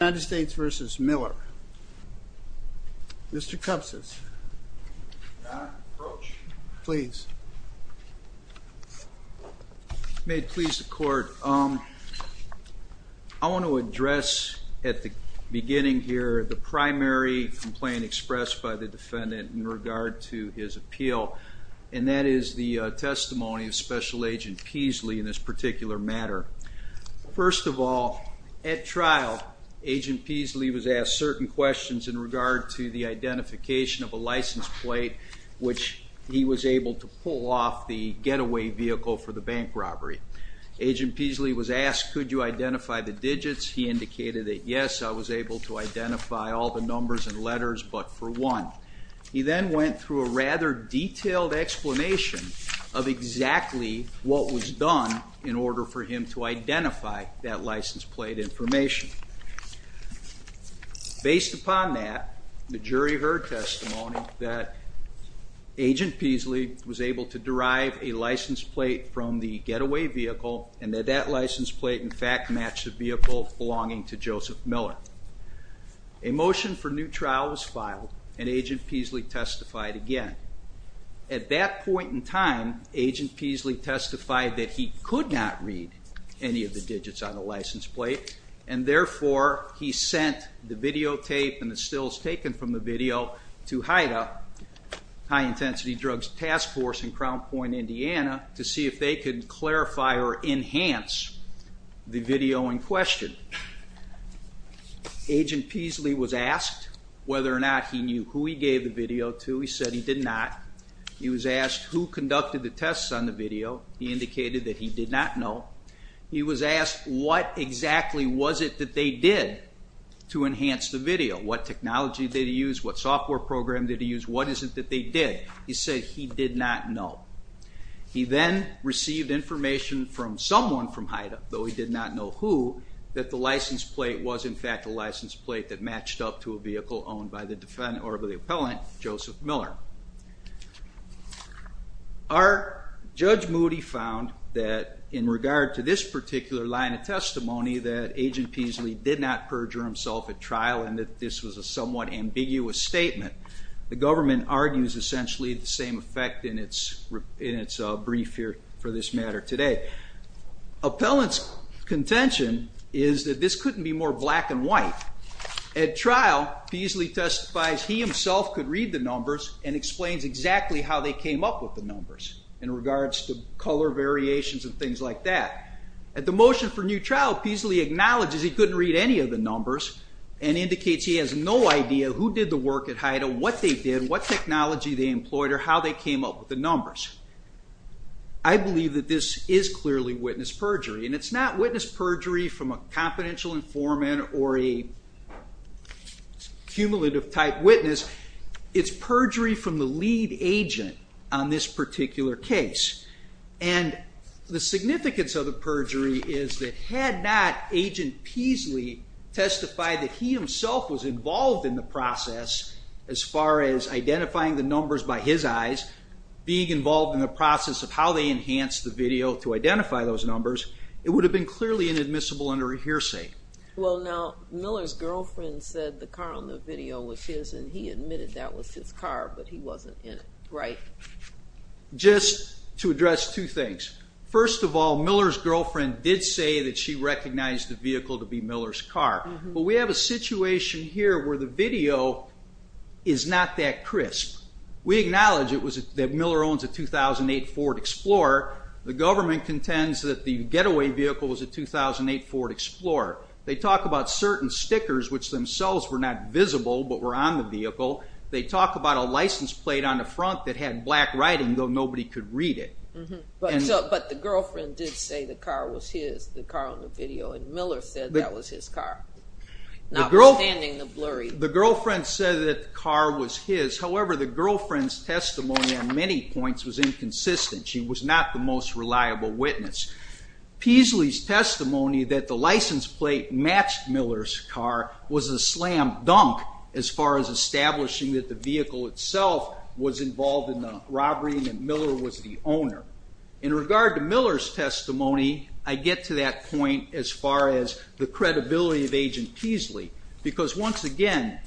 United States v. Miller. Mr. Cupsis. Your Honor, approach. Please. May it please the court. I want to address at the beginning here the primary complaint expressed by the defendant in regard to his appeal and that is the testimony of Special Agent Peasley in this particular matter. First of all, at Agent Peasley was asked certain questions in regard to the identification of a license plate which he was able to pull off the getaway vehicle for the bank robbery. Agent Peasley was asked, could you identify the digits? He indicated that yes, I was able to identify all the numbers and letters but for one. He then went through a rather detailed explanation of exactly what was done in order for him to identify that license plate information. Based upon that, the jury heard testimony that Agent Peasley was able to derive a license plate from the getaway vehicle and that that license plate in fact matched the vehicle belonging to Joseph Miller. A motion for new trial was filed and Agent Peasley testified again. At that point in time, Agent Peasley testified that he could not read any of the digits on the license plate and therefore he sent the videotape and the stills taken from the video to HIDTA, High Intensity Drugs Task Force in Crown Point, Indiana, to see if they could clarify or enhance the video to. He said he did not. He was asked who conducted the tests on the video. He indicated that he did not know. He was asked what exactly was it that they did to enhance the video. What technology did he use? What software program did he use? What is it that they did? He said he did not know. He then received information from someone from HIDTA, though he did not know who, that the license plate was in fact a license plate that matched up to a vehicle owned by the defendant or by the appellant, Joseph Miller. Our Judge Moody found that in regard to this particular line of testimony that Agent Peasley did not perjure himself at trial and that this was a somewhat ambiguous statement. The government argues essentially the same effect in its brief here for this matter today. Appellant's contention is that this couldn't be more black and white. At trial, Peasley testifies he himself could read the numbers and explains exactly how they came up with the numbers in regards to color variations and things like that. At the motion for new trial, Peasley acknowledges he couldn't read any of the numbers and indicates he has no idea who did the work at HIDTA, what they did, what technology they employed, or how they came up with the numbers. I believe that this is clearly witness perjury and it's not witness perjury from a confidential informant or a cumulative type witness. It's perjury from the lead agent on this particular case and the significance of the perjury is that had not Agent Peasley testified that he himself was involved in the process as far as identifying the numbers by his eyes, being involved in the process of how they enhanced the video to identify those numbers, it would have been clearly inadmissible under a hearsay. Well now, Miller's girlfriend said the car on the video was his and he admitted that was his car but he wasn't in it. Right. Just to address two things. First of all, Miller's girlfriend did say that she recognized the vehicle to be Miller's car, but we have a situation here where the video is not that crisp. We acknowledge it was that Miller owns a 2008 Ford Explorer. The government contends that the getaway vehicle was a 2008 Ford Explorer. They talk about certain stickers which themselves were not visible but were on the vehicle. They talk about a license plate on the front that had black writing though nobody could read it. But the girlfriend did say the car was his, the car on the video, and Miller said that was his car, notwithstanding the blurry. The girlfriend said that the car was his, however the girlfriend's testimony on many points was inconsistent. She was not the most reliable witness. Peasley's testimony that the license plate matched Miller's car was a slam dunk as far as establishing that the vehicle itself was involved in the robbery and that Miller was the owner. In regard to Miller's testimony, I get to that point as far as the credibility of agent Peasley because once again,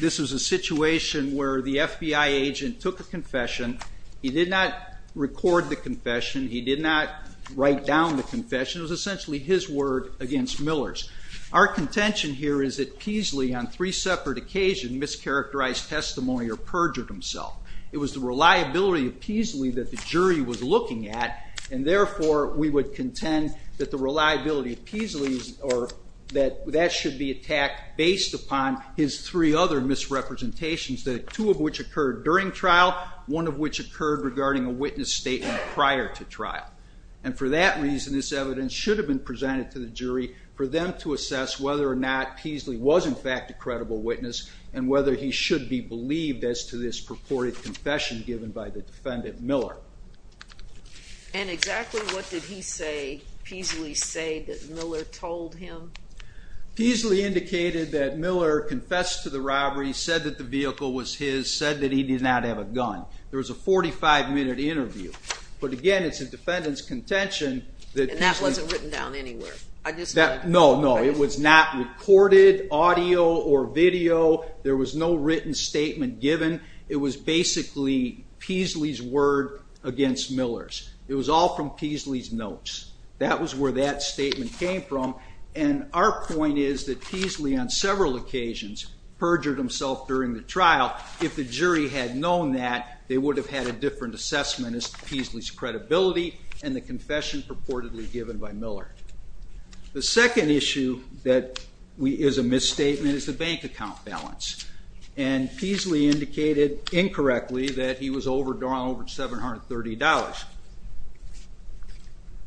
this was a situation where the FBI agent took a confession. He did not record the confession. He did not write down the confession. It was essentially his word against Miller's. Our contention here is that Peasley, on three separate occasions, mischaracterized testimony or perjured himself. It was the reliability of Peasley that the jury was looking at and therefore we would contend that the reliability of Peasley or that that should be attacked based upon his three other misrepresentations, two of which occurred during trial, one of which occurred regarding a witness statement prior to trial. And for that reason, this evidence should have been presented to the jury for them to assess whether or not Peasley was in fact a credible witness and whether he should be believed as to this purported confession given by the defendant Miller. And exactly what did he say, Peasley said that Miller told him? Peasley indicated that Miller confessed to the fact that he did not have a gun. There was a 45 minute interview. But again, it's the defendant's contention. And that wasn't written down anywhere? No, no. It was not recorded, audio or video. There was no written statement given. It was basically Peasley's word against Miller's. It was all from Peasley's notes. That was where that statement came from. And our point is that Peasley, on several occasions, perjured himself during the trial. If the jury had known that, they would have had a different assessment as to Peasley's credibility and the confession purportedly given by Miller. The second issue that is a misstatement is the bank account balance. And Peasley indicated incorrectly that he was overdrawn over $730.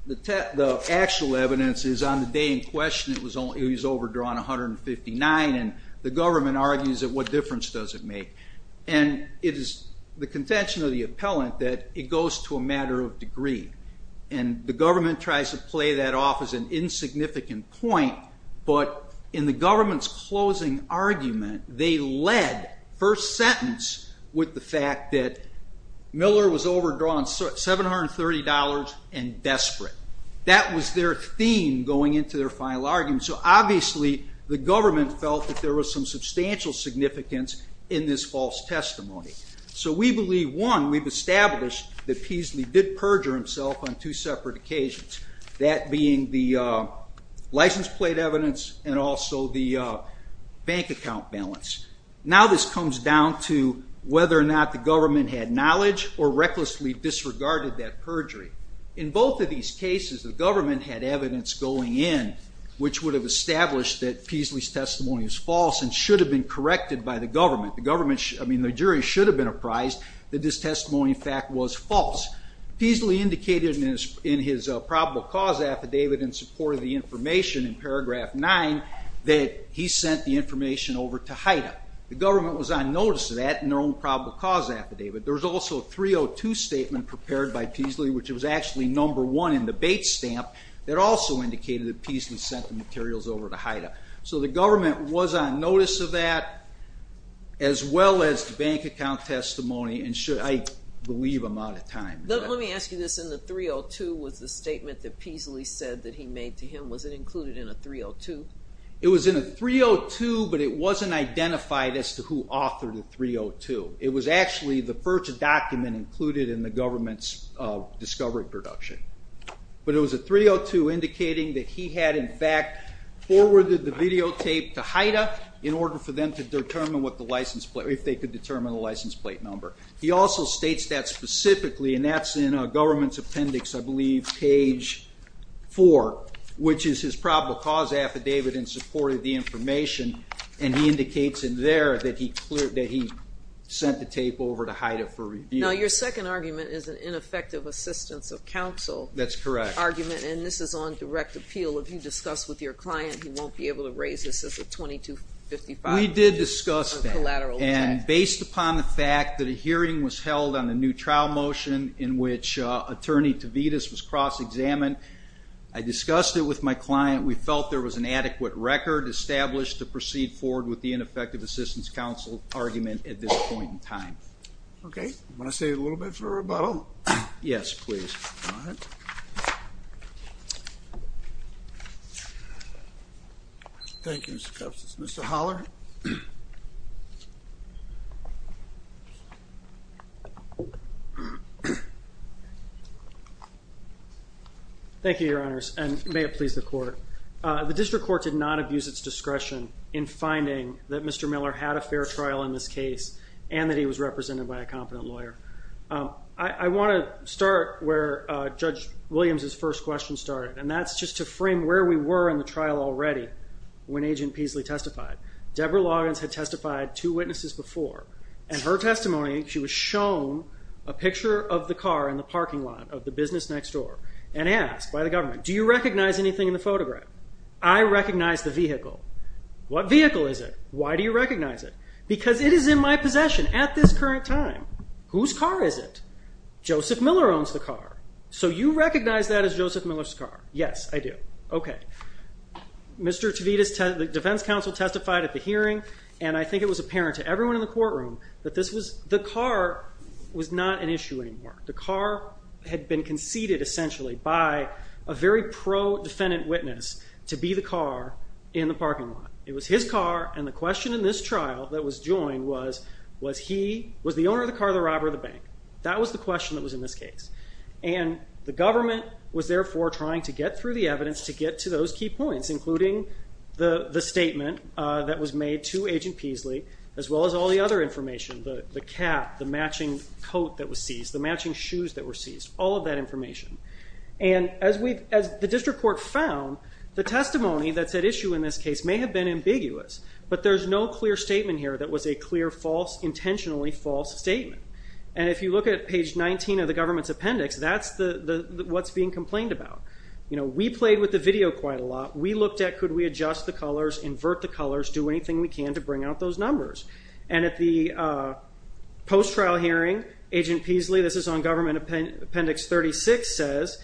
The actual evidence is on the day in question, he was overdrawn $159. And the government argues that what difference does it make? And it is the contention of the appellant that it goes to a matter of degree. And the government tries to play that off as an insignificant point. But in the government's closing argument, they led first sentence with the fact that Miller was overdrawn $730 and desperate. That was their theme going into their final argument. So obviously the government felt that there was some substantial significance in this false testimony. So we believe, one, we've established that Peasley did perjure himself on two separate occasions. That being the license plate evidence and also the bank account balance. Now this comes down to whether or not the government had knowledge or recklessly disregarded that perjury. In both of these cases, the government had evidence going in which would have established that Peasley's testimony was false and should have been corrected by the government. The government, I mean, the jury should have been apprised that this testimony fact was false. Peasley indicated in his probable cause affidavit in support of the information in paragraph 9 that he sent the information over to HIDTA. The government was on notice of that in their own probable cause affidavit. There was also a 302 statement prepared by Peasley, which was actually number one in the affidavit, indicating that Peasley sent the materials over to HIDTA. So the government was on notice of that, as well as the bank account testimony and should, I believe I'm out of time. Let me ask you this, in the 302 was the statement that Peasley said that he made to him, was it included in a 302? It was in a 302, but it wasn't identified as to who authored the 302. It was actually the first document included in the government's discovery production. But it was a 302 indicating that he had in fact forwarded the videotape to HIDTA in order for them to determine what the license plate, if they could determine a license plate number. He also states that specifically, and that's in a government's appendix, I believe, page 4, which is his probable cause affidavit in support of the information, and he indicates in there that he cleared, that he sent the tape over to HIDTA for review. Now your second argument is an is on direct appeal. If you discuss with your client, he won't be able to raise this as a 2255. We did discuss that, and based upon the fact that a hearing was held on the new trial motion in which attorney Tavides was cross-examined, I discussed it with my client. We felt there was an adequate record established to proceed forward with the ineffective assistance counsel argument at this point in time. Okay, I'm going to save a little bit for rebuttal. Yes, please. Thank you, Mr. Custis. Mr. Holler. Thank you, your honors, and may it please the court. The district court did not abuse its discretion in finding that Mr. Miller had a fair trial in this case and that he was represented by a competent lawyer. I want to start where Judge Williams's first question started, and that's just to frame where we were in the trial already when Agent Peasley testified. Deborah Loggins had testified to witnesses before, and her testimony, she was shown a picture of the car in the parking lot of the business next door and asked by the government, do you recognize anything in the photograph? I recognize the vehicle. What vehicle is it? Why do you recognize it? Because it is in my possession at this current time. Whose car is it? Joseph Miller owns the car. So you recognize that as Joseph Miller's car? Yes, I do. Okay. Mr. Tavides, the defense counsel testified at the hearing, and I think it was apparent to everyone in the courtroom that this was the car was not an issue anymore. The car had been conceded essentially by a very pro-defendant witness to be the car in the parking lot. It was his car, and the question in this trial that was joined was, was he, was the owner of the car the robber of the bank? That was the question that was in this case, and the government was therefore trying to get through the evidence to get to those key points, including the statement that was made to Agent Peasley, as well as all the other information, the cap, the matching coat that was seized, the matching shoes that were seized, all of that information. And as we, as the district court found, the testimony that's at issue in this case may have been ambiguous, but there's no clear statement here that was a clear false, intentionally false statement. And if you look at page 19 of the government's appendix, that's what's being complained about. You know, we played with the video quite a lot. We looked at could we adjust the colors, invert the colors, do anything we can to bring out those numbers. And at the post-trial hearing, Agent Peasley, this is on government appendix 36, says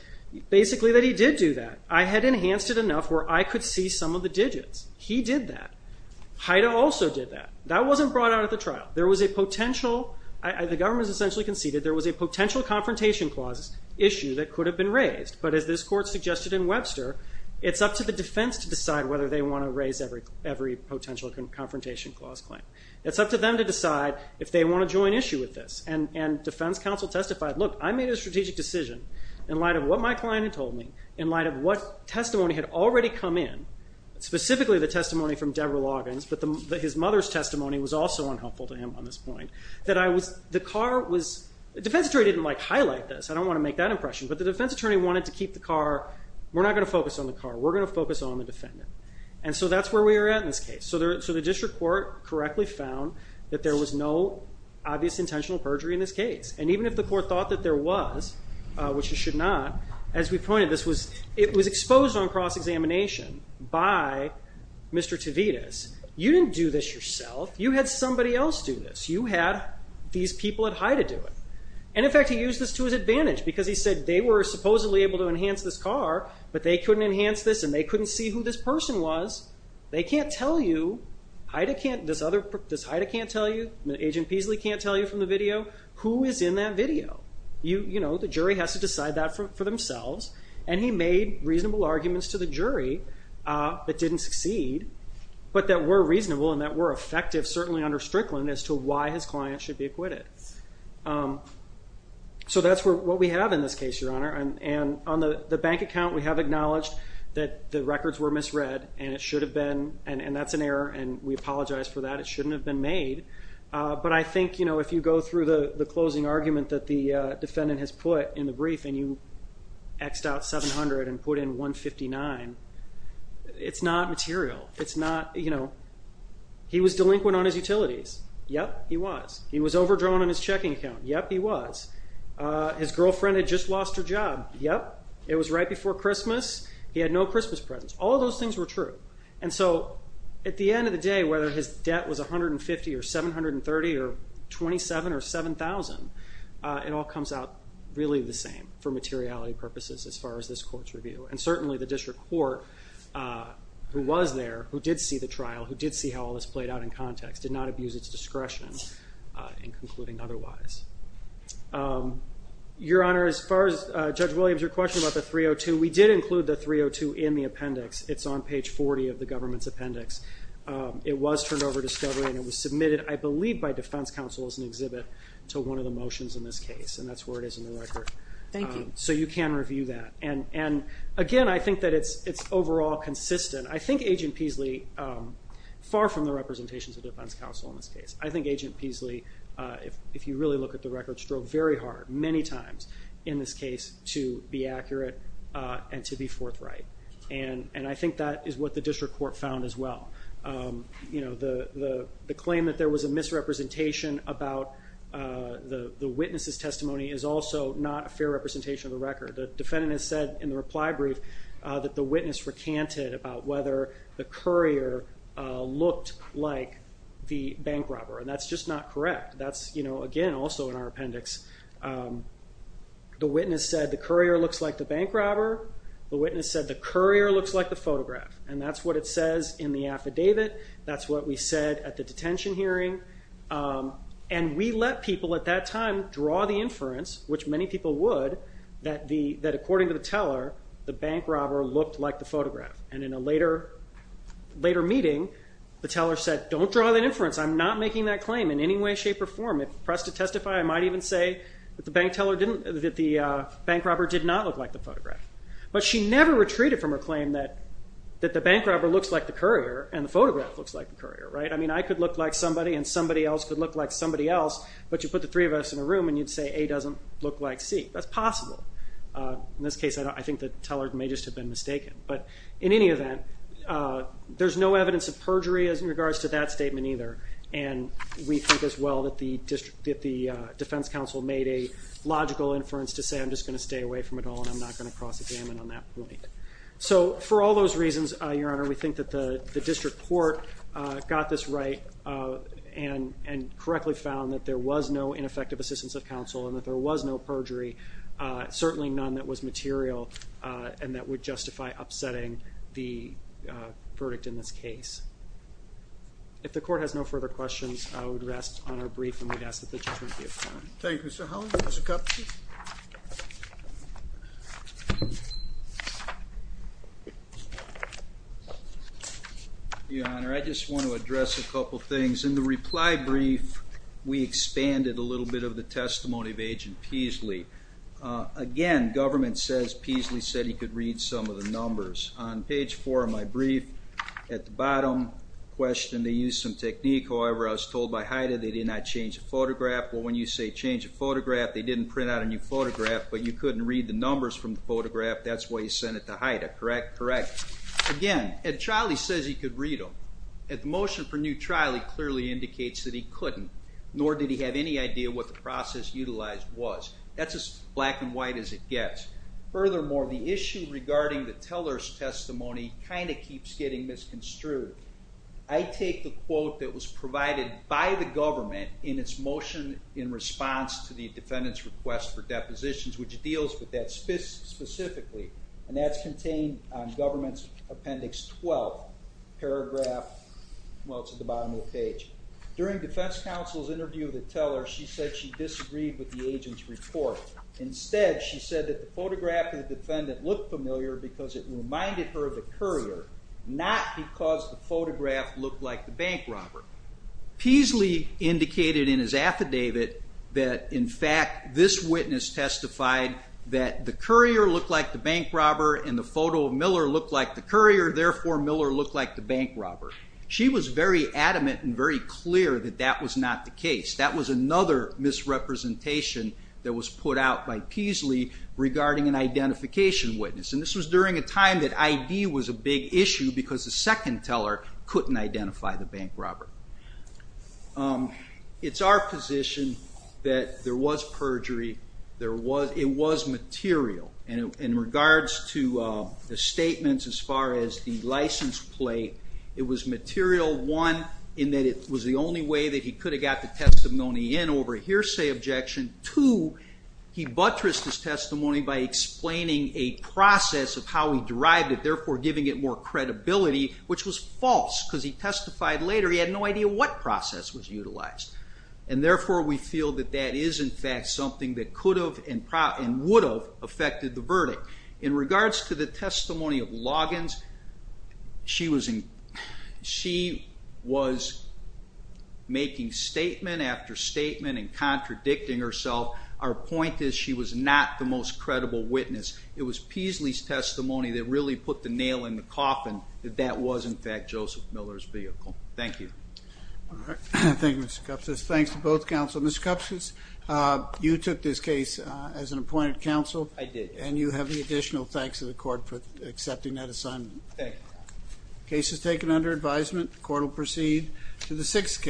basically that he did do that. I had enhanced it enough where I could see some of the digits. He did that. Haida also did that. That wasn't brought out at the trial. There was a potential, the government essentially conceded, there was a potential confrontation clause issue that could have been raised. But as this court suggested in Webster, it's up to the defense to decide whether they want to raise every potential confrontation clause claim. It's up to them to decide if they want to join issue with this. And defense counsel testified, look, I made a strategic decision in light of what my client had told me, in light of what testimony had already come in, specifically the testimony from Debra Loggins, but his mother's testimony was also unhelpful to him on this point, that I was, the car was, the defense attorney didn't like highlight this. I don't want to make that impression. But the defense attorney wanted to keep the car, we're not going to focus on the car, we're going to focus on the defendant. And so that's where we are at in this case. So the district court correctly found that there was no obvious intentional perjury in this case. And even if the court thought that there was, which it should not, as we pointed this was, it was exposed on cross-examination by Mr. Tavides. You didn't do this yourself, you had somebody else do this. You had these people at HIDA do it. And in fact he used this to his advantage because he said they were supposedly able to enhance this car, but they couldn't enhance this and they couldn't see who this person was. They can't tell you, HIDA can't, this person, who is in that video. You know, the jury has to decide that for themselves. And he made reasonable arguments to the jury that didn't succeed, but that were reasonable and that were effective, certainly under Strickland, as to why his client should be acquitted. So that's what we have in this case, Your Honor. And on the bank account, we have acknowledged that the records were misread and it should have been, and that's an error and we apologize for that, it shouldn't have been made. But I think, you know, if you go through the closing argument that the defendant has put in the brief and you X'd out 700 and put in 159, it's not material. It's not, you know, he was delinquent on his utilities. Yep, he was. He was overdrawn on his checking account. Yep, he was. His girlfriend had just lost her job. Yep, it was right before Christmas. He had no Christmas presents. All those things were true. And so, at the end of the day, whether his debt was 37 or 7,000, it all comes out really the same for materiality purposes as far as this court's review. And certainly the district court, who was there, who did see the trial, who did see how all this played out in context, did not abuse its discretion in concluding otherwise. Your Honor, as far as Judge Williams, your question about the 302, we did include the 302 in the appendix. It's on page 40 of the government's appendix. It was turned over to discovery and it was an exhibit to one of the motions in this case. And that's where it is in the record. Thank you. So you can review that. And again, I think that it's overall consistent. I think Agent Peasley, far from the representations of defense counsel in this case, I think Agent Peasley, if you really look at the records, drove very hard many times in this case to be accurate and to be forthright. And I think that is what the district court found as well. You know, the question about the witness's testimony is also not a fair representation of the record. The defendant has said in the reply brief that the witness recanted about whether the courier looked like the bank robber. And that's just not correct. That's, you know, again also in our appendix. The witness said the courier looks like the bank robber. The witness said the courier looks like the photograph. And that's what it says in the affidavit. That's what we said at the time. And we let people at that time draw the inference, which many people would, that according to the teller, the bank robber looked like the photograph. And in a later meeting, the teller said, don't draw that inference. I'm not making that claim in any way, shape, or form. If pressed to testify, I might even say that the bank robber did not look like the photograph. But she never retreated from her claim that the bank robber looks like the courier and the photograph looks like the courier, right? I mean, I could look like somebody and somebody else could look like somebody else, but you put the three of us in a room and you'd say A doesn't look like C. That's possible. In this case, I think the teller may just have been mistaken. But in any event, there's no evidence of perjury as in regards to that statement either. And we think as well that the defense counsel made a logical inference to say I'm just going to stay away from it all and I'm not going to cross the gamut on that point. So for all those reasons, Your Honor, we think that the district court got this right and correctly found that there was no ineffective assistance of counsel and that there was no perjury, certainly none that was material and that would justify upsetting the verdict in this case. If the court has no further questions, I would rest on our brief and we'd ask that the judgment be affirmed. Thank you, Mr. Helen, Mr. Kupfsch. Your Honor, I just want to address a couple things. In the reply brief, we expanded a little bit of the testimony of Agent Peasley. Again, government says Peasley said he could read some of the numbers. On page four of my brief, at the bottom, questioned they used some technique. However, I was told by Hyda they did not change a photograph. Well, when you say change a photograph, they didn't print out a new photograph, but you couldn't read the numbers from the photograph. That's why you sent it to Hyda, correct? Correct. Again, at trial, he says he could read them. At the motion for new trial, he clearly indicates that he couldn't, nor did he have any idea what the process utilized was. That's as black and white as it gets. Furthermore, the issue regarding the teller's testimony kind of keeps getting misconstrued. I take the quote that was provided by the request for depositions, which deals with that specifically, and that's contained on government's appendix 12. Paragraph, well, it's at the bottom of the page. During defense counsel's interview with the teller, she said she disagreed with the agent's report. Instead, she said that the photograph of the defendant looked familiar because it reminded her of the courier, not because the photograph looked like the bank robber. Peasley indicated in his affidavit that, in fact, this witness testified that the courier looked like the bank robber and the photo of Miller looked like the courier, therefore Miller looked like the bank robber. She was very adamant and very clear that that was not the case. That was another misrepresentation that was put out by Peasley regarding an identification witness. This was during a time that ID was a big issue because the re was perjury. It was material. In regards to the statements as far as the license plate, it was material, one, in that it was the only way that he could have got the testimony in over a hearsay objection. Two, he buttressed his testimony by explaining a process of how he derived it, therefore giving it more credibility, which was false because he testified later he had no idea what was in fact something that could have and would have affected the verdict. In regards to the testimony of Loggins, she was making statement after statement and contradicting herself. Our point is she was not the most credible witness. It was Peasley's testimony that really put the nail in the coffin that that was, in fact, Joseph Miller's vehicle. Thank you. Thank you, Mr. Kupces. Thanks to both counsel. Mr. Kupces, you took this case as an appointed counsel. I did. And you have the additional thanks of the court for accepting that assignment. The case is taken under advisement. The court will proceed to the sixth case.